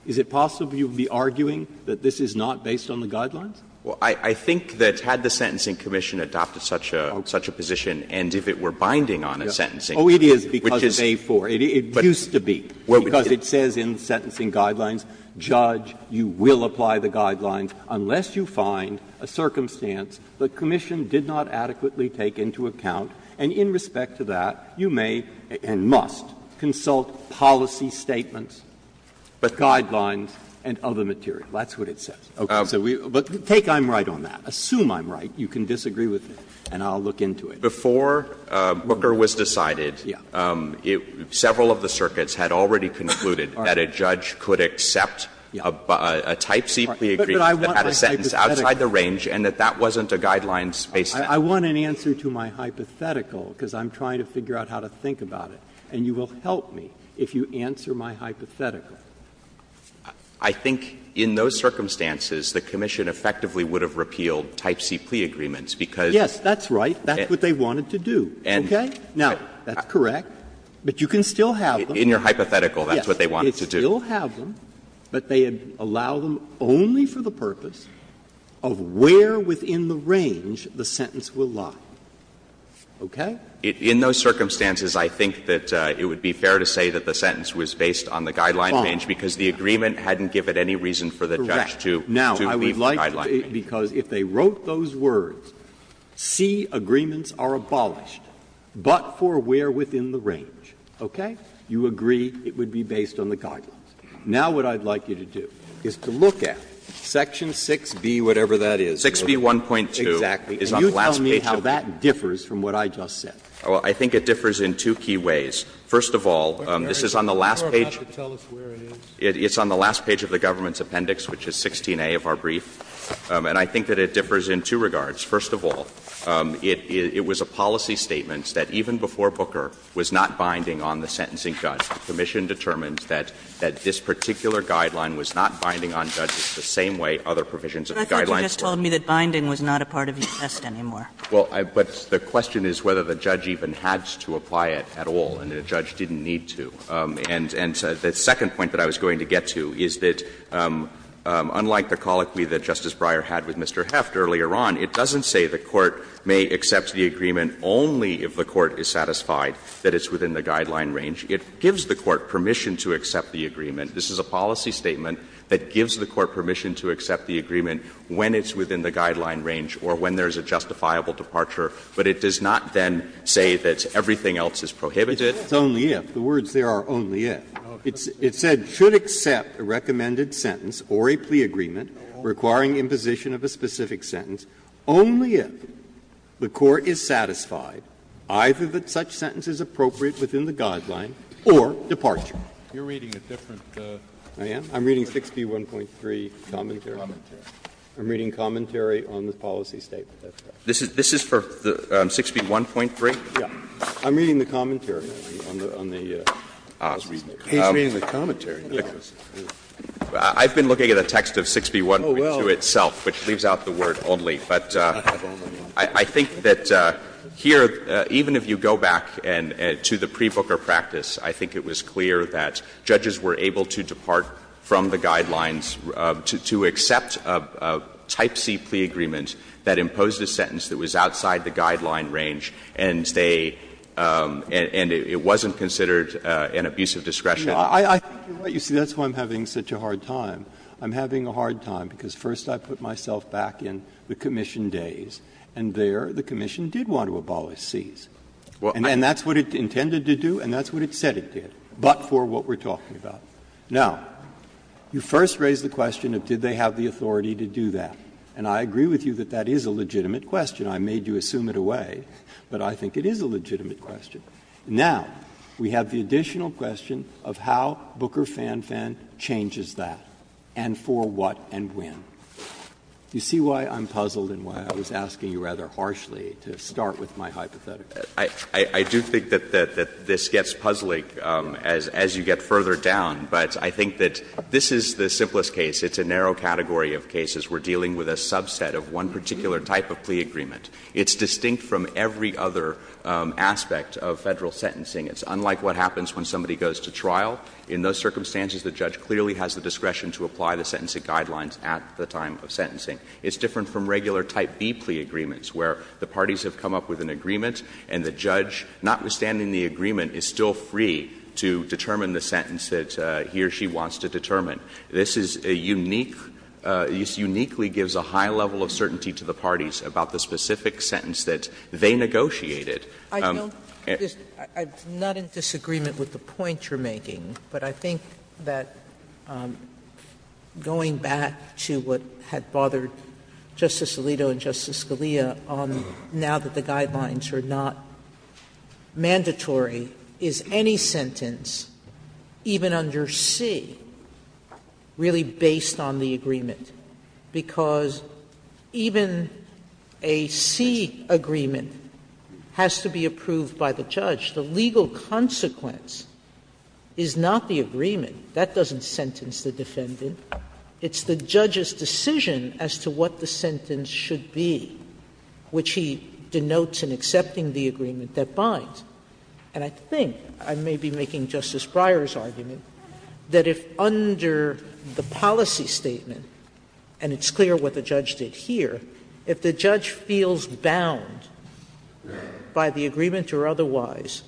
is it possible you would be arguing that this is not based on the guidelines? Well, I think that had the Sentencing Commission adopted such a position and if it were binding on a sentencing, which is— Oh, it is because of A4. It used to be, because it says in the Sentencing Guidelines, judge, you will apply the guidelines, unless you find a circumstance the commission did not adequately take into account, and in respect to that, you may and must consult policy statements. Guidelines and other material. That's what it says. But take I'm right on that. Assume I'm right. You can disagree with me, and I'll look into it. Before Booker was decided, several of the circuits had already concluded that a judge could accept a type C plea agreement that had a sentence outside the range and that that wasn't a guidelines-based sentence. I want an answer to my hypothetical, because I'm trying to figure out how to think about it. And you will help me if you answer my hypothetical. I think in those circumstances, the commission effectively would have repealed type C plea agreements, because— Yes, that's right. That's what they wanted to do. Okay? Now, that's correct. But you can still have them. In your hypothetical, that's what they wanted to do. Yes. You can still have them, but they allow them only for the purpose of where within the range the sentence will lie. Okay? In those circumstances, I think that it would be fair to say that the sentence was based on the guideline range, because the agreement hadn't given any reason for the judge to leave the guideline range. Correct. Now, I would like to say, because if they wrote those words, C, agreements are abolished, but for where within the range, okay, you agree it would be based on the guidelines. Now, what I'd like you to do is to look at section 6B, whatever that is. 6B.1.2 is on the last page of it. It differs from what I just said. Well, I think it differs in two key ways. First of all, this is on the last page. It's on the last page of the government's appendix, which is 16A of our brief. And I think that it differs in two regards. First of all, it was a policy statement that even before Booker was not binding on the sentencing judge, the commission determined that this particular guideline was not binding on judges the same way other provisions of the guidelines were. Kagan. Kagan. And I thought you just told me that binding was not a part of the test anymore. Well, but the question is whether the judge even had to apply it at all, and the judge didn't need to. And the second point that I was going to get to is that, unlike the colloquy that Justice Breyer had with Mr. Heft earlier on, it doesn't say the court may accept the agreement only if the court is satisfied that it's within the guideline range. It gives the court permission to accept the agreement. This is a policy statement that gives the court permission to accept the agreement when it's within the guideline range or when there's a justifiable departure, but it does not then say that everything else is prohibited. It says only if. The words there are only if. It said, ''should accept a recommended sentence or a plea agreement requiring imposition of a specific sentence only if the court is satisfied either that such sentence is appropriate within the guideline or departure.'' You're reading a different. I am? I'm reading 6b1.3 commentary. I'm reading commentary on the policy statement. This is for 6b1.3? Yes. I'm reading the commentary on the policy statement. He's reading the commentary. I've been looking at a text of 6b1.2 itself, which leaves out the word ''only''. But I think that here, even if you go back to the pre-Booker practice, I think it was clear that judges were able to depart from the guidelines to accept a type C plea agreement that imposed a sentence that was outside the guideline range, and they and it wasn't considered an abuse of discretion. You see, that's why I'm having such a hard time. I'm having a hard time because first I put myself back in the commission days, and there the commission did want to abolish C's. And that's what it intended to do and that's what it said it did. But for what we're talking about. Now, you first raised the question of did they have the authority to do that. And I agree with you that that is a legitimate question. I made you assume it away, but I think it is a legitimate question. Now, we have the additional question of how Booker FANFAN changes that, and for what and when. You see why I'm puzzled and why I was asking you rather harshly to start with my hypothetical? I do think that this gets puzzling as you get further down, but I think that this is the simplest case. It's a narrow category of cases. We're dealing with a subset of one particular type of plea agreement. It's distinct from every other aspect of Federal sentencing. It's unlike what happens when somebody goes to trial. In those circumstances, the judge clearly has the discretion to apply the sentencing guidelines at the time of sentencing. It's different from regular type B plea agreements where the parties have come up with an agreement and the judge, notwithstanding the agreement, is still free to determine the sentence that he or she wants to determine. This is a unique — this uniquely gives a high level of certainty to the parties about the specific sentence that they negotiated. Sotomayor, I'm not in disagreement with the point you're making, but I think that going back to what had bothered Justice Alito and Justice Scalia on now that the guy lines are not mandatory, is any sentence, even under C, really based on the agreement? Because even a C agreement has to be approved by the judge. The legal consequence is not the agreement. That doesn't sentence the defendant. It's the judge's decision as to what the sentence should be, which he denotes in accepting the agreement, that binds. And I think, I may be making Justice Breyer's argument, that if under the policy statement, and it's clear what the judge did here, if the judge feels bound by the agreement or otherwise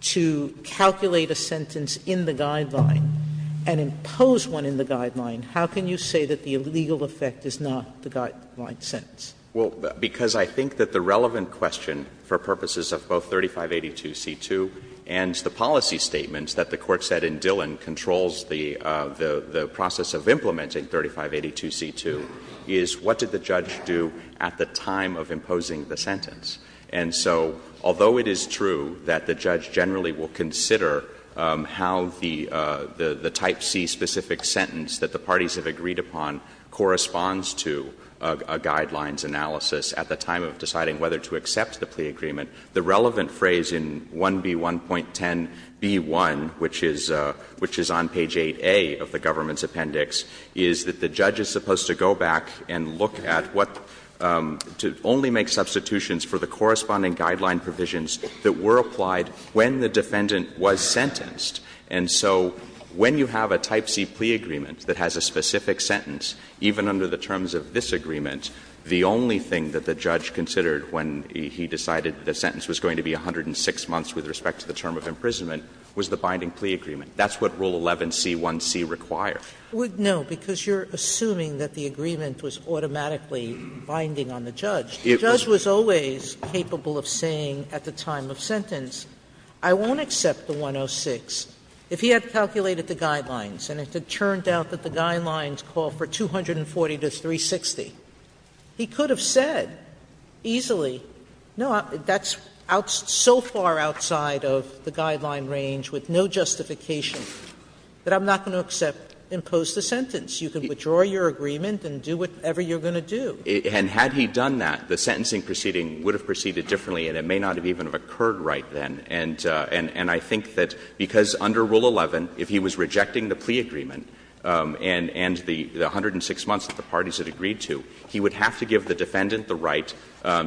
to calculate a sentence in the guideline and impose one in the guideline, how can you say that the legal effect is not the guideline sentence? Well, because I think that the relevant question for purposes of both 3582c2 and the policy statements that the Court said in Dillon controls the process of implementing 3582c2 is what did the judge do at the time of imposing the sentence. And so although it is true that the judge generally will consider how the type C specific sentence that the parties have agreed upon corresponds to a guidelines analysis at the time of deciding whether to accept the plea agreement, the relevant phrase in 1B1.10b1, which is on page 8a of the government's appendix, is that the judge is supposed to go back and look at what to only make substitutions for the corresponding guideline provisions that were applied when the defendant was sentenced. And so when you have a type C plea agreement that has a specific sentence, even under the terms of this agreement, the only thing that the judge considered when he decided the sentence was going to be 106 months with respect to the term of imprisonment was the binding plea agreement. That's what Rule 11c1c requires. Sotomayor No, because you're assuming that the agreement was automatically binding on the judge. The judge was always capable of saying at the time of sentence, I won't accept the 106, if he had calculated the guidelines and it had turned out that the guidelines call for 240 to 360, he could have said easily, no, that's so far outside of the guideline range with no justification that I'm not going to accept, impose the sentence. You can withdraw your agreement and do whatever you're going to do. And had he done that, the sentencing proceeding would have proceeded differently and it may not have even occurred right then. And I think that because under Rule 11, if he was rejecting the plea agreement and the 106 months that the parties had agreed to, he would have to give the defendant the right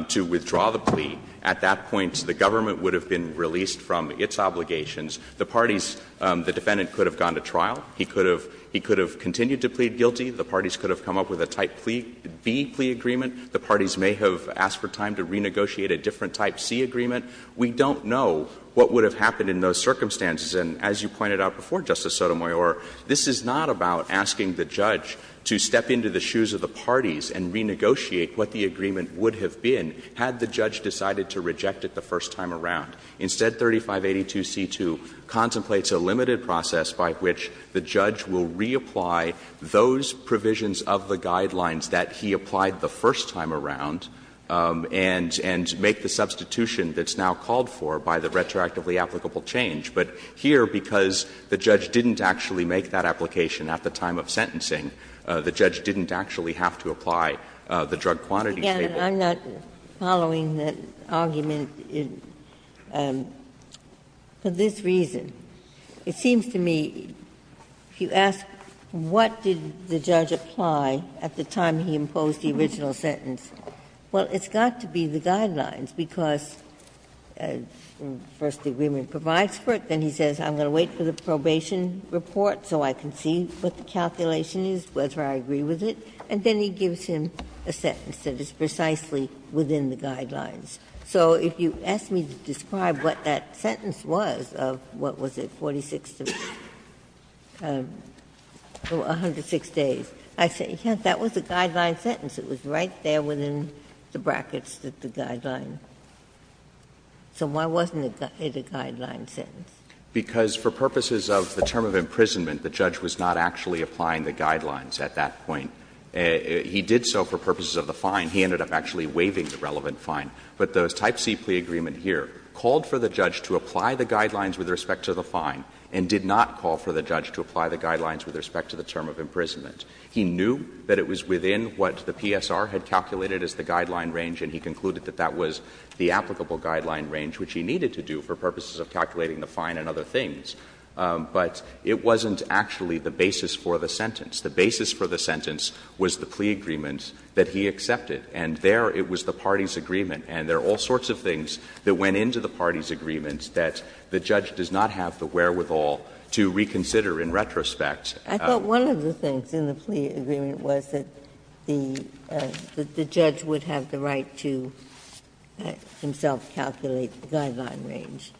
to withdraw the plea. At that point, the government would have been released from its obligations. The parties, the defendant could have gone to trial. He could have continued to plead guilty. The parties could have come up with a type B plea agreement. The parties may have asked for time to renegotiate a different type C agreement. We don't know what would have happened in those circumstances. And as you pointed out before, Justice Sotomayor, this is not about asking the judge to step into the shoes of the parties and renegotiate what the agreement would have been had the judge decided to reject it the first time around. Instead, 3582c2 contemplates a limited process by which the judge will reapply those provisions of the guidelines that he applied the first time around and make a substitution that's now called for by the retroactively applicable change. But here, because the judge didn't actually make that application at the time of sentencing, the judge didn't actually have to apply the drug quantity statement. Ginsburg-Goldberg. I'm not following that argument for this reason. It seems to me, if you ask what did the judge apply at the time he imposed the original sentence, well, it's got to be the guidelines, because first the agreement provides for it, then he says, I'm going to wait for the probation report so I can see what the calculation is, whether I agree with it, and then he gives him a sentence that is precisely within the guidelines. So if you ask me to describe what that sentence was of, what was it, 46 to 106 days, I say, yes, that was a guideline sentence. It was right there within the brackets that the guideline. So why wasn't it a guideline sentence? Because for purposes of the term of imprisonment, the judge was not actually applying the guidelines at that point. He did so for purposes of the fine. He ended up actually waiving the relevant fine. But the Type C plea agreement here called for the judge to apply the guidelines with respect to the fine and did not call for the judge to apply the guidelines with respect to the term of imprisonment. He knew that it was within what the PSR had calculated as the guideline range, and he concluded that that was the applicable guideline range, which he needed to do for purposes of calculating the fine and other things. But it wasn't actually the basis for the sentence. The basis for the sentence was the plea agreement that he accepted, and there it was the party's agreement, and there are all sorts of things that went into the party's agreement that the judge does not have the wherewithal to reconsider in retrospect. Ginsburg. I thought one of the things in the plea agreement was that the judge would have the right to himself calculate the guideline range.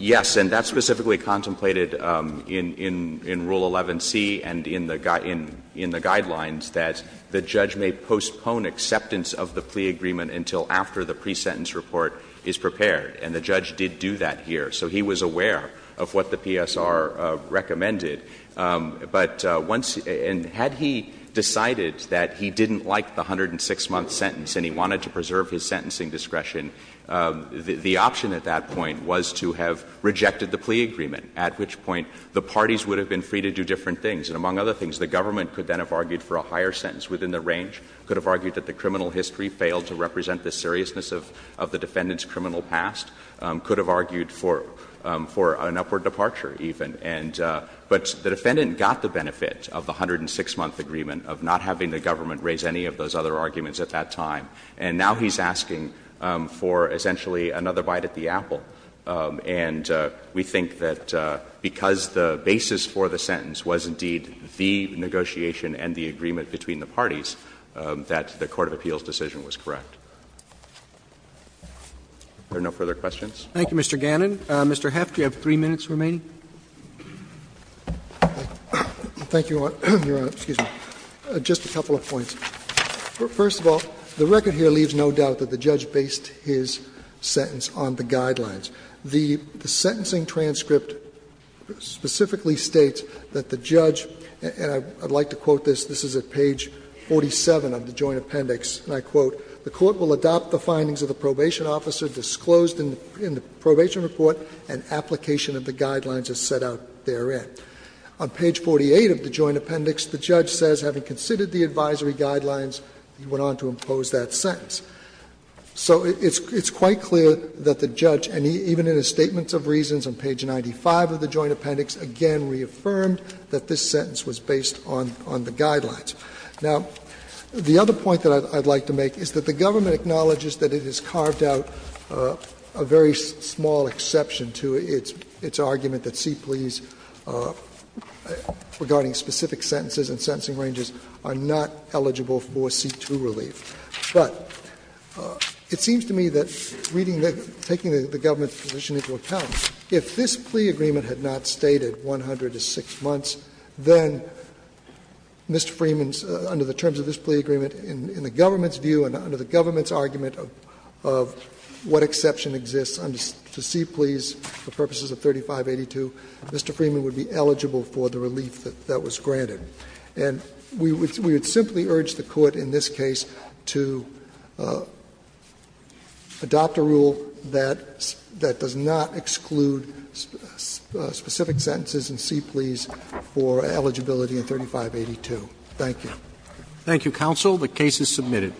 Yes. And that's specifically contemplated in Rule 11c and in the guidelines, that the judge may postpone acceptance of the plea agreement until after the pre-sentence report is prepared. And the judge did do that here, so he was aware of what the PSR recommended. But once — and had he decided that he didn't like the 106-month sentence and he wanted to preserve his sentencing discretion, the option at that point was to have rejected the plea agreement, at which point the parties would have been free to do different things. And among other things, the government could then have argued for a higher sentence within the range, could have argued that the criminal history failed to represent the seriousness of the defendant's criminal past, could have argued for an upward departure even. And — but the defendant got the benefit of the 106-month agreement, of not having the government raise any of those other arguments at that time. And now he's asking for, essentially, another bite at the apple. And we think that because the basis for the sentence was indeed the negotiation and the agreement between the parties, that the court of appeals decision was correct. Are there no further questions? Roberts. Thank you, Mr. Gannon. Mr. Heft, you have three minutes remaining. Thank you, Your Honor. Excuse me. Just a couple of points. First of all, the record here leaves no doubt that the judge based his sentence on the guidelines. The sentencing transcript specifically states that the judge, and I would like to quote this, this is at page 47 of the joint appendix, and I quote, So it's quite clear that the judge, and even in his statements of reasons, on page 95 of the joint appendix, again reaffirmed that this sentence was based on the guidelines. Now, the other point that I would like to make is that the judge, and I would like to make is that the government acknowledges that it has carved out a very small exception to its argument that C pleas regarding specific sentences and sentencing ranges are not eligible for C2 relief. But it seems to me that reading the — taking the government's position into account, if this plea agreement had not stated 106 months, then Mr. Freeman's, under the terms of this plea agreement, in the government's view and under the government's argument of what exception exists to C pleas for purposes of 3582, Mr. Freeman would be eligible for the relief that was granted. And we would simply urge the Court in this case to adopt a rule that does not exclude specific sentences in C pleas for eligibility in 3582. Thank you. Thank you, counsel. The case is submitted.